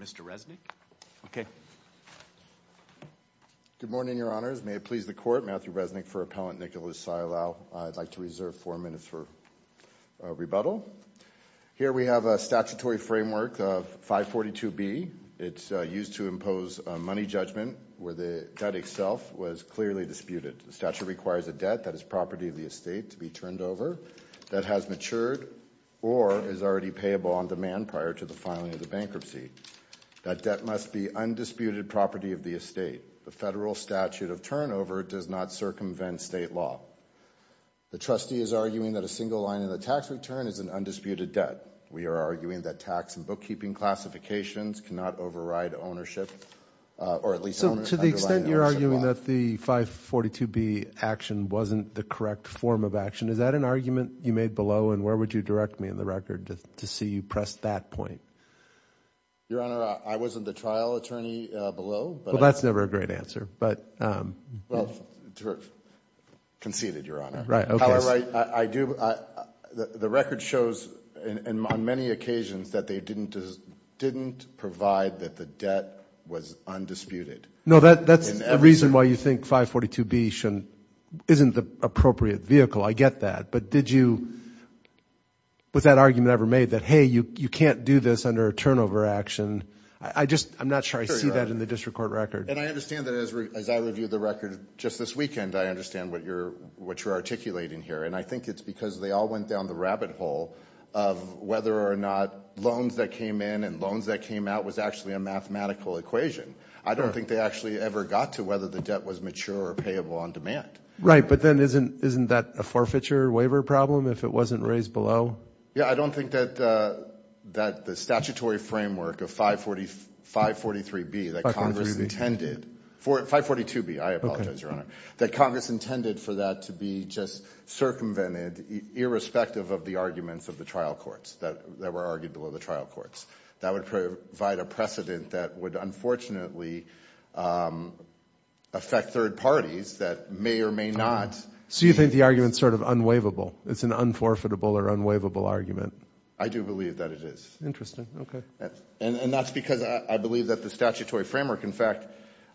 Mr. Resnick. Okay. Good morning, Your Honors. May it please the Court, Matthew Resnick for Appellant Nicholas Saialao. I'd like to reserve four minutes for rebuttal. Here we have a statutory framework of 542B. It's used to impose a money judgment where the debt itself was clearly disputed. The statute requires a debt that is property of the estate to be turned over, that has matured, or is already payable on demand prior to the filing of the bankruptcy. That debt must be undisputed property of the estate. The federal statute of turnover does not circumvent state law. The trustee is arguing that a single line in the tax return is an undisputed debt. We are arguing that tax and bookkeeping classifications cannot override ownership, or at least underline ownership of the bond. You're arguing that the 542B action wasn't the correct form of action. Is that an argument you made below, and where would you direct me in the record to see you press that point? Your Honor, I wasn't the trial attorney below. Well, that's never a great answer, but. Conceded, Your Honor. How I write, I do, the record shows on many occasions that they didn't provide that the debt was undisputed. No, that's the reason why you think 542B isn't the appropriate vehicle. I get that, but did you, was that argument ever made that, hey, you can't do this under a turnover action? I just, I'm not sure I see that in the district court record. And I understand that as I review the record just this weekend, I understand what you're articulating here, and I think it's because they all went down the rabbit hole of whether or not loans that came in and loans that came out was actually a mathematical equation. I don't think they actually ever got to whether the debt was mature or payable on demand. Right, but then isn't, isn't that a forfeiture waiver problem if it wasn't raised below? Yeah, I don't think that, that the statutory framework of 540, 543B that Congress intended, 542B, I apologize, Your Honor, that Congress intended for that to be just circumvented irrespective of the arguments of the trial courts that were argued below the trial courts. That would provide a precedent that would unfortunately affect third parties that may or may not. So you think the argument's sort of unwaivable? It's an unforfeitable or unwaivable argument? I do believe that it is. Interesting, okay. And that's because I believe that the statutory framework, in fact,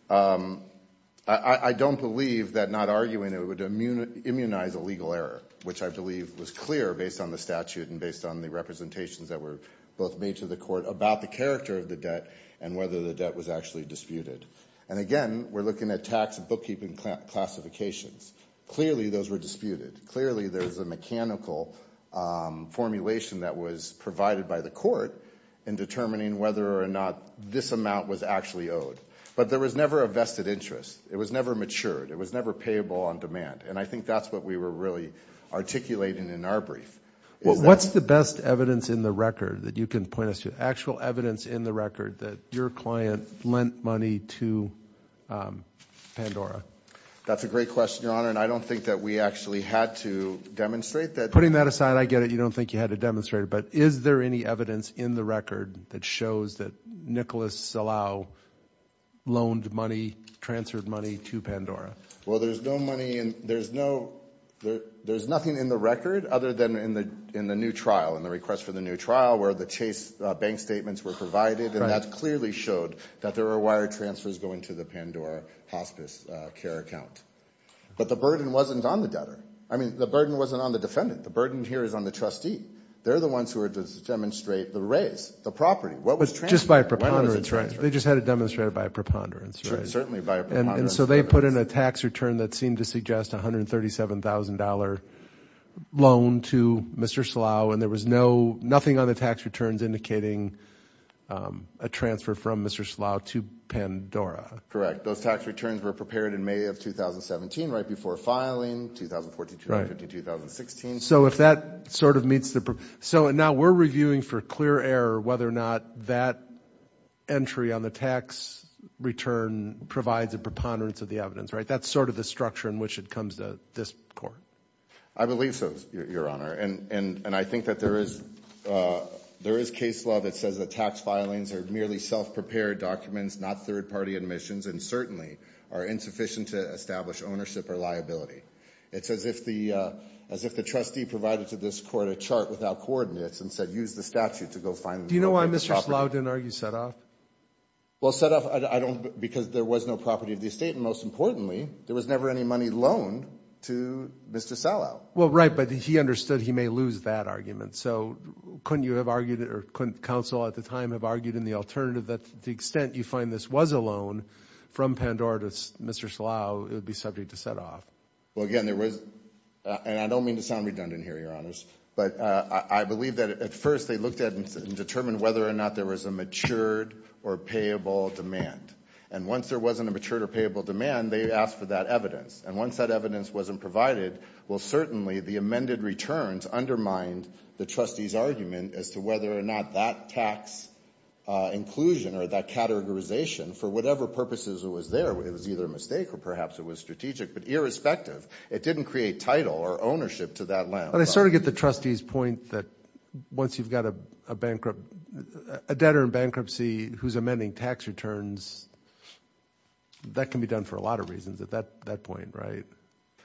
I don't believe that not arguing it would immunize a legal error, which I believe was clear based on the statute and based on the representations that were both made to the court about the character of the debt and whether the debt was actually disputed. And again, we're looking at tax bookkeeping classifications. Clearly those were disputed. Clearly there was a mechanical formulation that was provided by the court in determining whether or not this amount was actually owed. But there was never a vested interest. It was never matured. It was never payable on demand. And I think that's what we were really articulating in our brief. Well, what's the best evidence in the record that you can point us to? Actual evidence in the record that your client lent money to Pandora? That's a great question, Your Honor. And I don't think that we actually had to demonstrate that. Putting that aside, I get it. You don't think you had to demonstrate it. But is there any evidence in the record that shows that Nicholas Salao loaned money, transferred money to Pandora? Well, there's no money. There's nothing in the record other than in the new trial, in the request for the new trial, where the Chase bank statements were provided. And that clearly showed that there were wire transfers going to the Pandora hospice care account. But the burden wasn't on the debtor. I mean, the burden wasn't on the defendant. The burden here is on the trustee. They're the ones who are to demonstrate the raise, the property. What was transferred? Just by a preponderance, right? They just had it demonstrated by a preponderance, right? Certainly by a preponderance. And so they put in a tax return that seemed to suggest $137,000 loan to Mr. Salao. And there was nothing on the tax returns indicating a transfer from Mr. Salao to Pandora. Correct. Those tax returns were prepared in May of 2017, right before filing, 2014, 2015, 2016. So if that sort of meets the... So now we're reviewing for clear error, whether or not that entry on the tax return provides a preponderance of the evidence, right? That's sort of the structure in which it comes to this court. I believe so, Your Honor. And I think that there is case law that says that tax filings are merely self-prepared documents, not third-party admissions, and certainly are insufficient to establish ownership or liability. It's as if the trustee provided to this court a chart without coordinates and said, use the statute to go find... Do you know why Mr. Salao didn't argue set-off? Well, set-off, I don't... Because there was no property of the estate. And most importantly, there was never any money loaned to Mr. Salao. Well, right. But he understood he may lose that argument. So couldn't you have argued, or couldn't counsel at the time have argued in the alternative that to the extent you find this was a loan from Pandora to Mr. Salao, it would be subject to set-off? Well, again, there was... And I don't mean to sound redundant here, Your Honors. But I believe that at first they looked at and determined whether or not there was a matured or payable demand. And once there wasn't a matured or payable demand, they asked for that evidence. And once that evidence wasn't provided, well, certainly the amended returns undermined the trustee's argument as to whether or not that tax inclusion or that categorization, for whatever purposes it was there, it was either a mistake or perhaps it was strategic. But irrespective, it didn't create title or ownership to that land. But I sort of get the trustee's point that once you've got a debtor in bankruptcy who's amending tax returns, that can be done for a lot of reasons at that point, right?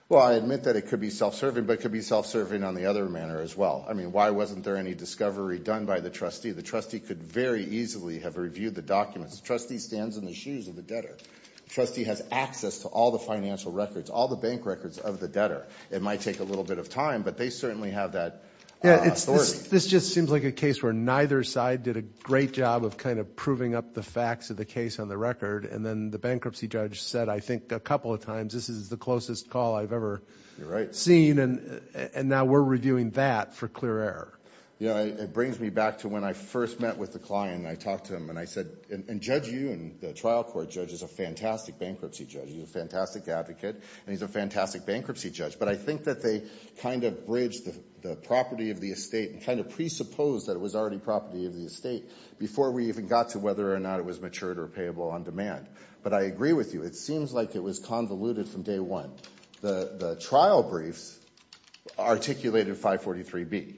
Well, I admit that it could be self-serving, but it could be self-serving on the other manner as well. I mean, why wasn't there any discovery done by the trustee? The trustee could very easily have reviewed the documents. The trustee stands in the shoes of the debtor. The trustee has access to all the financial records, all the bank records of the debtor. It might take a little bit of time, but they certainly have that authority. Yeah, this just seems like a case where neither side did a great job of kind of proving up the facts of the case on the record. And then the bankruptcy judge said, I think a couple of times, this is the closest call I've ever seen. And now we're reviewing that for clear error. Yeah, it brings me back to when I first met with the client and I said, and Judge Yoon, the trial court judge, is a fantastic bankruptcy judge. He's a fantastic advocate, and he's a fantastic bankruptcy judge. But I think that they kind of bridged the property of the estate and kind of presupposed that it was already property of the estate before we even got to whether or not it was matured or payable on demand. But I agree with you. It seems like it was convoluted from day one. The trial briefs articulated 542B.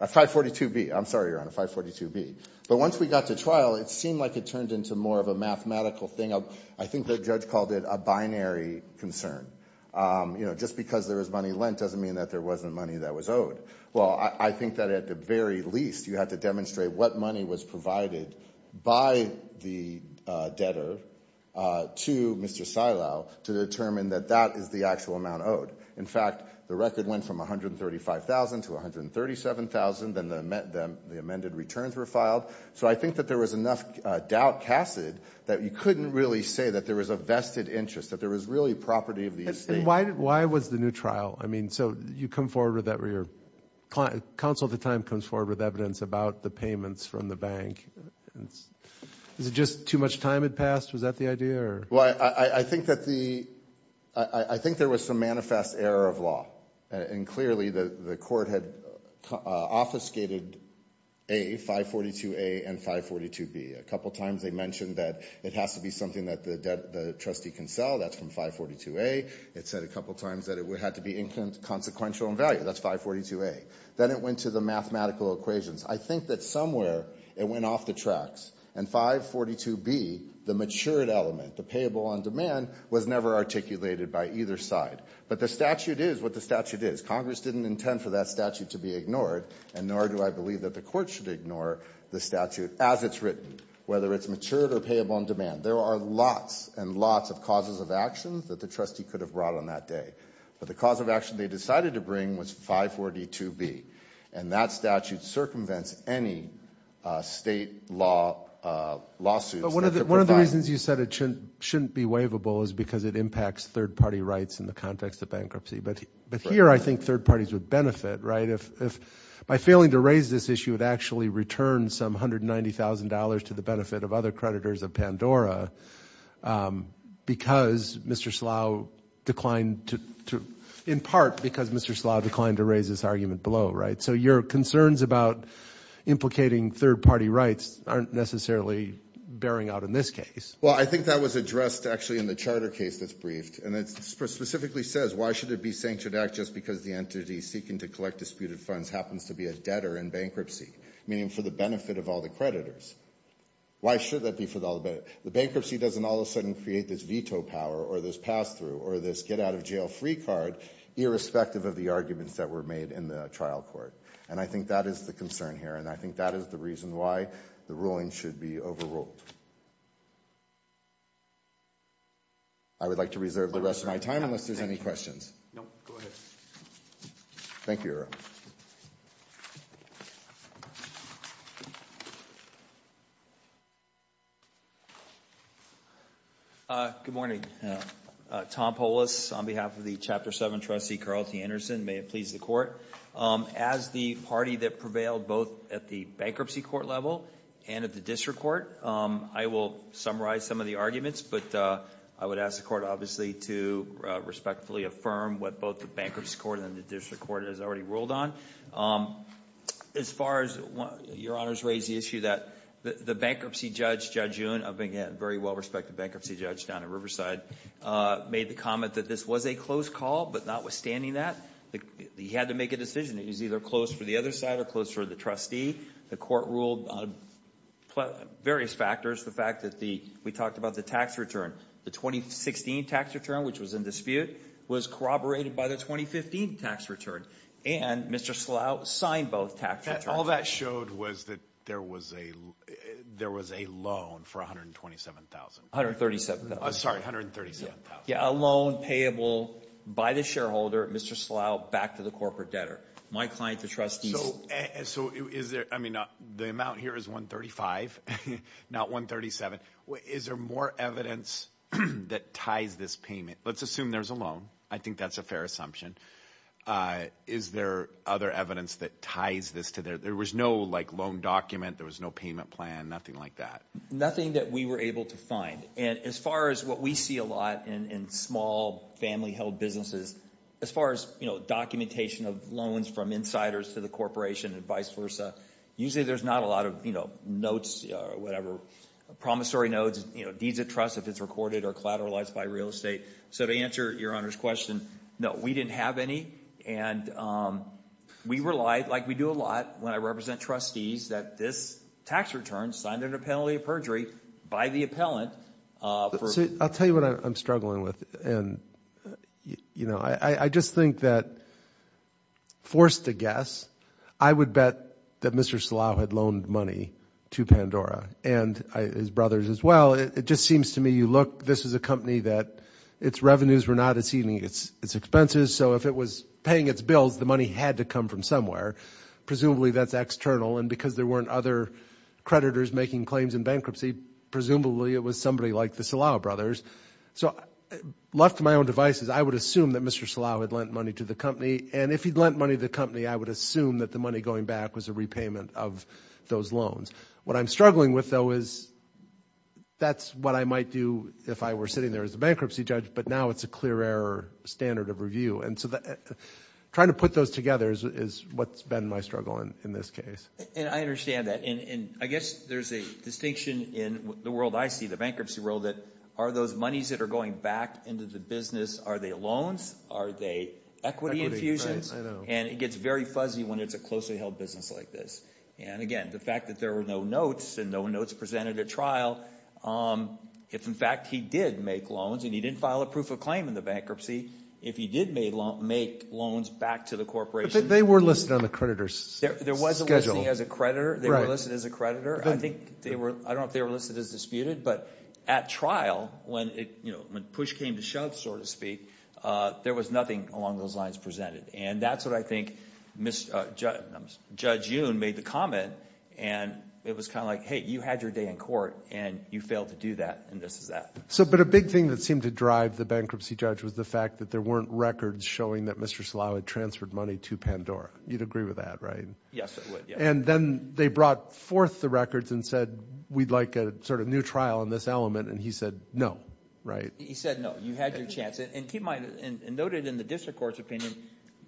I'm sorry, Your Honor, 542B. But once we got to trial, it seemed like it turned into more of a mathematical thing. I think the judge called it a binary concern. You know, just because there was money lent doesn't mean that there wasn't money that was owed. Well, I think that at the very least, you have to demonstrate what money was provided by the debtor to Mr. Silow to determine that that is the actual amount owed. In fact, the record went from $135,000 to $137,000. Then the amended returns were filed. So I think that there was enough doubt casted that you couldn't really say that there was a vested interest, that there was really property of the estate. Why was the new trial? I mean, so you come forward with that. Your counsel at the time comes forward with evidence about the payments from the bank. Is it just too much time had passed? Was that the idea? Well, I think there was some manifest error of law. And clearly the court had obfuscated A, 542A and 542B. A couple times they mentioned that it has to be something that the trustee can sell. That's from 542A. It said a couple times that it would have to be inconsequential in value. That's 542A. Then it went to the mathematical equations. I think that somewhere it went off the tracks. And 542B, the matured element, the payable on demand, was never articulated by either side. But the statute is what the statute is. Congress didn't intend for that statute to be ignored, and nor do I believe that the court should ignore the statute as it's written, whether it's matured or payable on demand. There are lots and lots of causes of actions that the trustee could have brought on that day. But the cause of action they decided to bring was 542B. And that statute circumvents any state lawsuits. But one of the reasons you said it shouldn't be waivable is because it impacts third party rights in the context of bankruptcy. But here I think third parties would benefit, right? If by failing to raise this issue, it actually returns some $190,000 to the benefit of other creditors of Pandora because Mr. Slough declined to, in part because to raise this argument below, right? So your concerns about implicating third party rights aren't necessarily bearing out in this case. Well, I think that was addressed actually in the charter case that's briefed. And it specifically says, why should it be a sanctioned act just because the entity seeking to collect disputed funds happens to be a debtor in bankruptcy, meaning for the benefit of all the creditors? Why should that be for the benefit? The bankruptcy doesn't all of a sudden create this veto power or this pass-through or this get-out-of-jail-free card, irrespective of the arguments that were made in the trial court. And I think that is the concern here. And I think that is the reason why the ruling should be overruled. I would like to reserve the rest of my time unless there's any questions. No, go ahead. Thank you, Your Honor. Good morning. Tom Polis on behalf of the Chapter 7 trustee, Carl T. Anderson. May it please the court. As the party that prevailed both at the bankruptcy court level and at the district court, I will summarize some of the arguments. But I would ask the court, obviously, to respectfully affirm what both the bankruptcy court and the district court has already ruled on. As far as Your Honor's raised the issue that the bankruptcy judge, Judge Yoon, a very well-respected bankruptcy judge down in Riverside, made the comment that this was a close call. But not withstanding that, he had to make a decision. It was either closed for the other side or closed for the trustee. The court ruled on various factors. The fact that we talked about the tax return, the 2016 tax return, which was in dispute, was corroborated by the 2015 tax return. And Mr. Slough signed both tax returns. All that showed was that there was a there was a loan for $127,000. $137,000. Sorry, $137,000. Yeah, a loan payable by the shareholder, Mr. Slough, back to the corporate debtor. My client, the trustees. So is there, I mean, the amount here is $135,000, not $137,000. Is there more evidence that ties this payment? Let's assume there's a loan. I think that's a fair assumption. Is there other evidence that ties this to there? There was no like loan document, there was no payment plan, nothing like that. Nothing that we were able to find. And as far as what we see a lot in small family held businesses, as far as documentation of loans from insiders to the corporation and vice versa, usually there's not a lot of notes or whatever, promissory notes, deeds of trust, if it's recorded or collateralized by real estate. So to answer your Honor's question, no, we didn't have any. And we relied, like we do a lot when I represent trustees, that this tax return signed under penalty of perjury by the appellant. I'll tell you what I'm struggling with. And, you know, I just think that forced to guess, I would bet that Mr. Slough had loaned money to Pandora and his brothers as well. It just seems to me, you look, this is a company that its revenues were not exceeding its expenses. So if it was paying its bills, the money had to come from somewhere. Presumably that's external. And because there weren't other creditors making claims in bankruptcy, presumably it was somebody like the Slough brothers. So left to my own devices, I would assume that Mr. Slough had lent money to the company. And if he'd lent money to the company, I would assume that the money going back was a repayment of those loans. What I'm struggling with, though, is that's what I might do if I were sitting there as a bankruptcy judge, but now it's a clear error standard of review. And so trying to put those together is what's been my struggle in this case. And I understand that. And I guess there's a distinction in the world I see, the bankruptcy world, that are those monies that are going back into the business, are they loans? Are they equity infusions? And it gets very fuzzy when it's a closely held business like this. And again, the fact that there were no notes and no notes presented at trial, if in fact he did make loans and he didn't file a proof of claim in the bankruptcy, if he did make loans back to the corporation... They were listed on the creditor's schedule. There wasn't listed as a creditor. They were listed as a creditor. I think they were... I don't know if they were listed as disputed, but at trial, when push came to shove, so to speak, there was nothing along those lines presented. And that's what I think Judge Yoon made the comment. And it was kind of like, hey, you had your day in court and you failed to do that. And this is that. So but a big thing that seemed to drive the bankruptcy judge was the fact that there weren't records showing that Mr. Slaoui transferred money to Pandora. You'd agree with that, right? Yes, I would. And then they brought forth the records and said, we'd like a sort of new trial on this element. And he said, no, right? He said, no, you had your chance. And noted in the district court's opinion,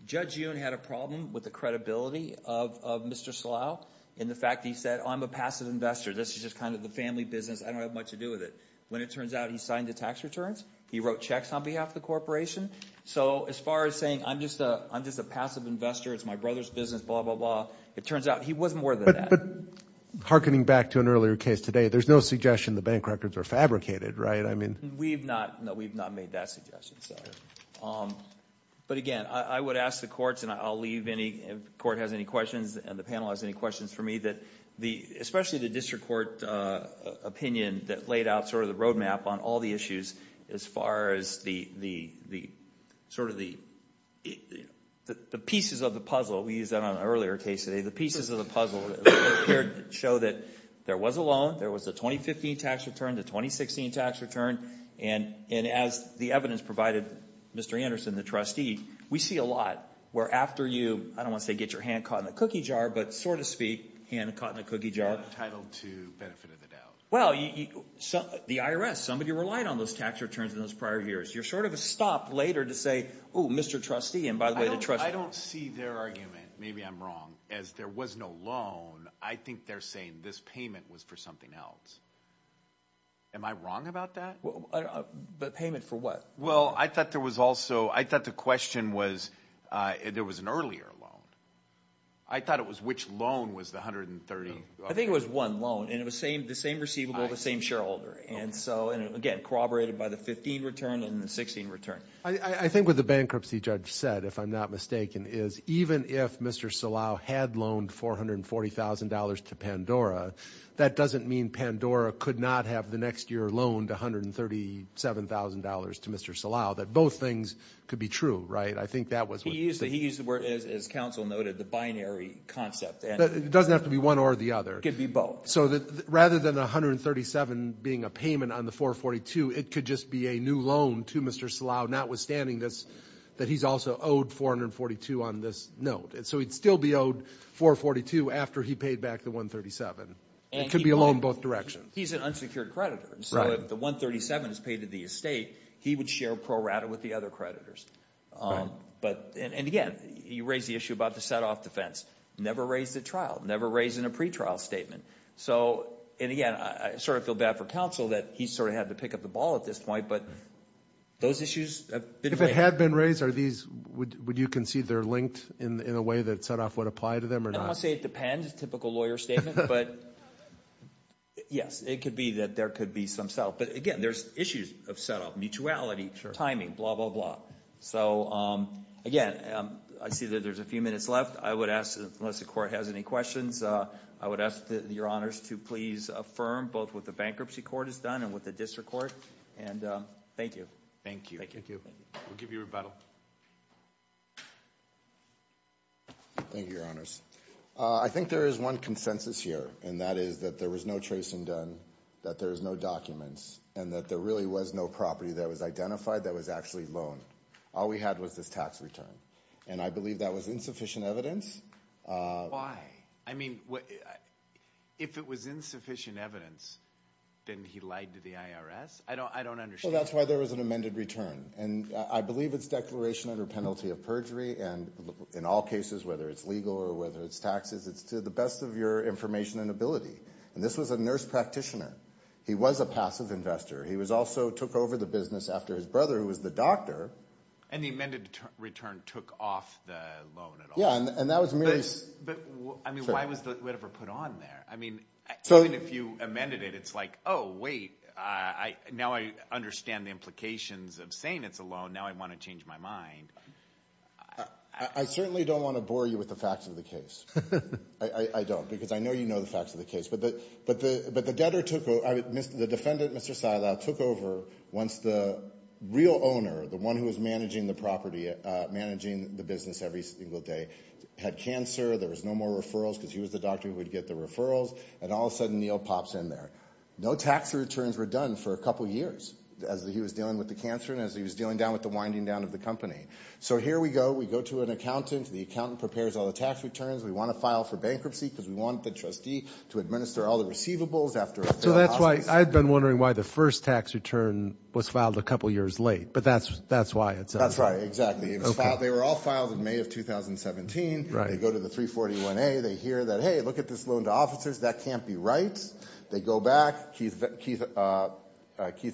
Judge Yoon had a problem with the credibility of Mr. Slaoui in the fact that he said, oh, I'm a passive investor. This is just kind of the family business. I don't have much to do with it. When it turns out, he signed the tax returns. He wrote checks on behalf of the corporation. So as far as saying, I'm just a passive investor. It's my brother's business, blah, blah, blah. It turns out he was more than that. But hearkening back to an earlier case today, there's no suggestion the bank records are fabricated, right? No, we've not made that suggestion. But again, I would ask the courts, and I'll leave any, if the court has any questions and the panel has any questions for me, that especially the district court opinion that laid out sort of the roadmap on all the issues as far as the pieces of the puzzle. We used that on an earlier case today. The pieces of the puzzle showed that there was a loan. There was a 2015 tax return, the 2016 tax return. And as the evidence provided, Mr. Anderson, the trustee, we see a lot where after you, I don't want to say get your hand caught in a cookie jar, but sort of speak, hand caught in a cookie jar. Not entitled to benefit of the doubt. Well, the IRS, somebody relied on those tax returns in those prior years. You're sort of a stop later to say, oh, Mr. Trustee, and by the way, the trustee. I don't see their argument, maybe I'm wrong. As there was no loan, I think they're saying this payment was for something else. Am I wrong about that? But payment for what? Well, I thought there was also, I thought the question was, there was an earlier loan. I thought it was which loan was the 130? I think it was one loan. And it was the same receivable, the same shareholder. And so, and again, corroborated by the 15 return and the 16 return. I think what the bankruptcy judge said, if I'm not mistaken, is even if Mr. Salao had loaned $440,000 to Pandora, that doesn't mean Pandora could not have the next year loaned $137,000 to Mr. Salao. That both things could be true, right? I think that was what he said. He used the word, as counsel noted, the binary concept. It doesn't have to be one or the other. It could be both. So rather than the 137 being a payment on the 442, it could just be a new loan to Mr. Salao, notwithstanding this, that he's also owed 442 on this note. So he'd still be owed 442 after he paid back the 137. It could be a loan both directions. He's an unsecured creditor. So if the 137 is paid to the estate, he would share pro rata with the other creditors. And again, you raised the issue about the set-off defense. Never raised at trial. Never raised in a pretrial statement. So and again, I sort of feel bad for counsel that he sort of had to pick up the ball at this point, but those issues have been raised. If it had been raised, would you concede they're linked in a way that set-off would apply to them or not? I'll say it depends, typical lawyer statement. But yes, it could be that there could be some set-off. But again, there's issues of set-off, mutuality, timing, blah, blah, blah. So again, I see that there's a few minutes left. I would ask, unless the court has any questions, I would ask your honors to please affirm both what the bankruptcy court has done and what the district court. And thank you. Thank you. Thank you. We'll give you rebuttal. Thank you, your honors. I think there is one consensus here, and that is that there was no tracing done, that there is no documents, and that there really was no property that was identified that was actually loaned. All we had was this tax return. And I believe that was insufficient evidence. Why? I mean, if it was insufficient evidence, then he lied to the IRS? I don't understand. Well, that's why there was an amended return. And I believe it's declaration under penalty of perjury. And in all cases, whether it's legal or whether it's taxes, it's to the best of your information and ability. And this was a nurse practitioner. He was a passive investor. He also took over the business after his brother, who was the doctor. And the amended return took off the loan at all? Yeah, and that was merely... But, I mean, why was whatever put on there? I mean, even if you amended it, it's like, oh, wait, now I understand the implications of saying it's a loan. Now I want to change my mind. I certainly don't want to bore you with the facts of the case. I don't, because I know you know the facts of the case. But the debtor took over... The defendant, Mr. Silow, took over once the real owner, the one who was managing the property, managing the business every single day, had cancer. There was no more referrals because he was the doctor who would get the referrals. And all of a sudden, Neil pops in there. No tax returns were done for a couple of years as he was dealing with the cancer and as he was dealing down with the winding down of the company. So here we go. We go to an accountant. The accountant prepares all the tax returns. We want to file for bankruptcy because we want the trustee to administer all the receivables after... So that's why I've been wondering why the first tax return was filed a couple of years late. But that's why it's... That's right, exactly. They were all filed in May of 2017. They go to the 341A. They hear that, hey, look at this loan to officers. That can't be right. They go back. Keith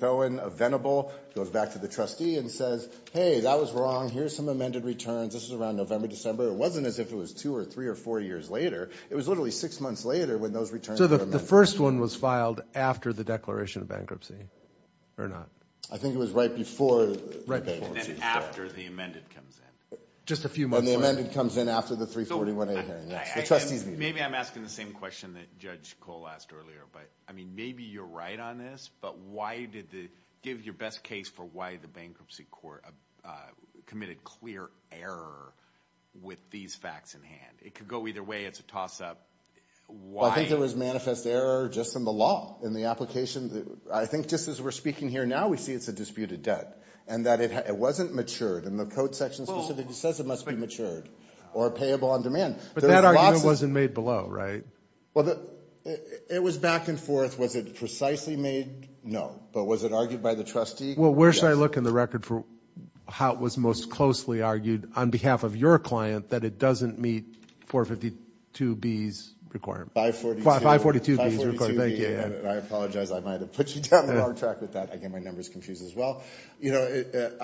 Owen of Venable goes back to the trustee and says, hey, that was wrong. Here's some amended returns. This is around November, December. It wasn't as if it was two or three or four years later. It was literally six months later when those returns were amended. So the first one was filed after the declaration of bankruptcy or not? I think it was right before the bankruptcy. And then after the amended comes in. Just a few months later. And the amended comes in after the 341A hearing. Yes, the trustees meet. Maybe I'm asking the same question that Judge Cole asked earlier. But I mean, maybe you're right on this. But why did the... Give your best case for why the bankruptcy court committed clear error with these facts in hand. It could go either way. It's a toss up. Well, I think there was manifest error just in the law, in the application. I think just as we're speaking here now, we see it's a disputed debt. And that it wasn't matured. And the code section specifically says it must be matured or payable on demand. But that argument wasn't made below, right? Well, it was back and forth. Was it precisely made? No. But was it argued by the trustee? Well, where should I look in the record for how it was most closely argued on behalf of your client that it doesn't meet 452B's requirement? 542B. 542B's requirement. Thank you. I apologize. I might have put you down the wrong track with that. I get my numbers confused as well. You know,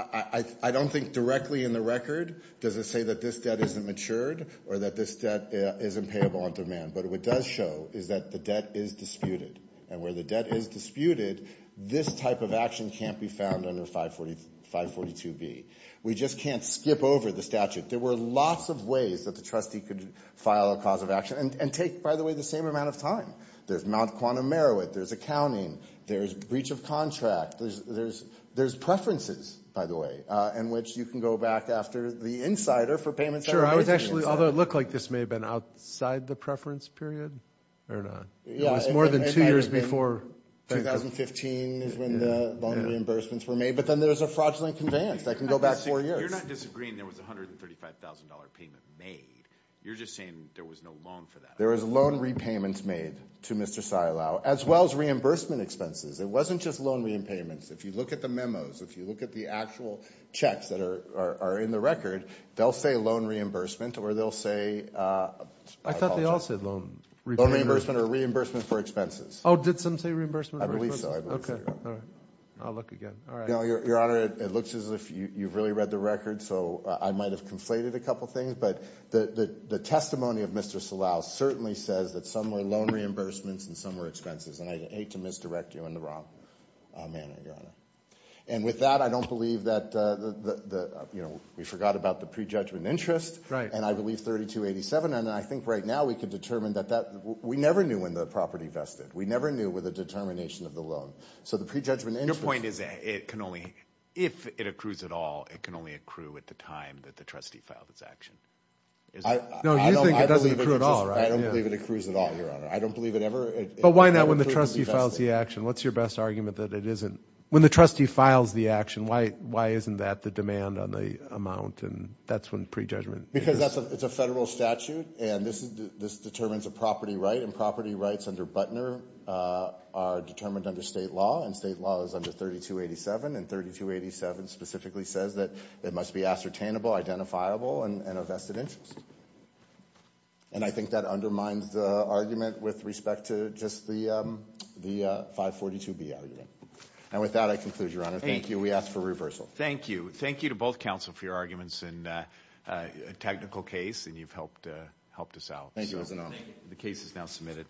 I don't think directly in the record does it say that this debt isn't matured or that this debt isn't payable on demand. But what it does show is that the debt is disputed. And where the debt is disputed, this type of action can't be found under 542B. We just can't skip over the statute. There were lots of ways that the trustee could file a cause of action. And take, by the way, the same amount of time. There's Mount Quantum Merowith. There's accounting. There's breach of contract. There's preferences, by the way, in which you can go back after the insider for payments that were made to the insider. Sure. I was actually, although it looked like this may have been outside the preference period or not. Yeah, it's more than two years before. 2015 is when the loan reimbursements were made. But then there's a fraudulent conveyance that can go back four years. You're not disagreeing there was $135,000 payment made. You're just saying there was no loan for that. There was loan repayments made to Mr. Silow as well as reimbursement expenses. It wasn't just loan repayments. If you look at the memos, if you look at the actual checks that are in the record, they'll say loan reimbursement or they'll say... I thought they all said loan repayments. Reimbursement or reimbursement for expenses. Oh, did some say reimbursement? I believe so. Okay, all right. I'll look again. All right. Your Honor, it looks as if you've really read the record, so I might have conflated a couple things. But the testimony of Mr. Silow certainly says that some were loan reimbursements and some were expenses. And I hate to misdirect you in the wrong manner, Your Honor. And with that, I don't believe that... We forgot about the prejudgment interest. Right. And I believe 3287. And I think right now we can determine that that... We never knew when the property vested. We never knew with the determination of the loan. So the prejudgment interest... Your point is that it can only... If it accrues at all, it can only accrue at the time that the trustee filed its action. No, you think it doesn't accrue at all, right? I don't believe it accrues at all, Your Honor. I don't believe it ever... But why not when the trustee files the action? What's your best argument that it isn't... When the trustee files the action, why isn't that the demand on the amount? And that's when prejudgment... Because it's a federal statute. And this determines a property right. And property rights under Butner are determined under state law. And state law is under 3287. And 3287 specifically says that it must be ascertainable, identifiable, and a vested interest. And I think that undermines the argument with respect to just the 542B argument. And with that, I conclude, Your Honor. Thank you. We ask for reversal. Thank you. Thank you to both counsel for your arguments in a technical case. And you've helped us out. Thank you, Your Honor. The case is now submitted.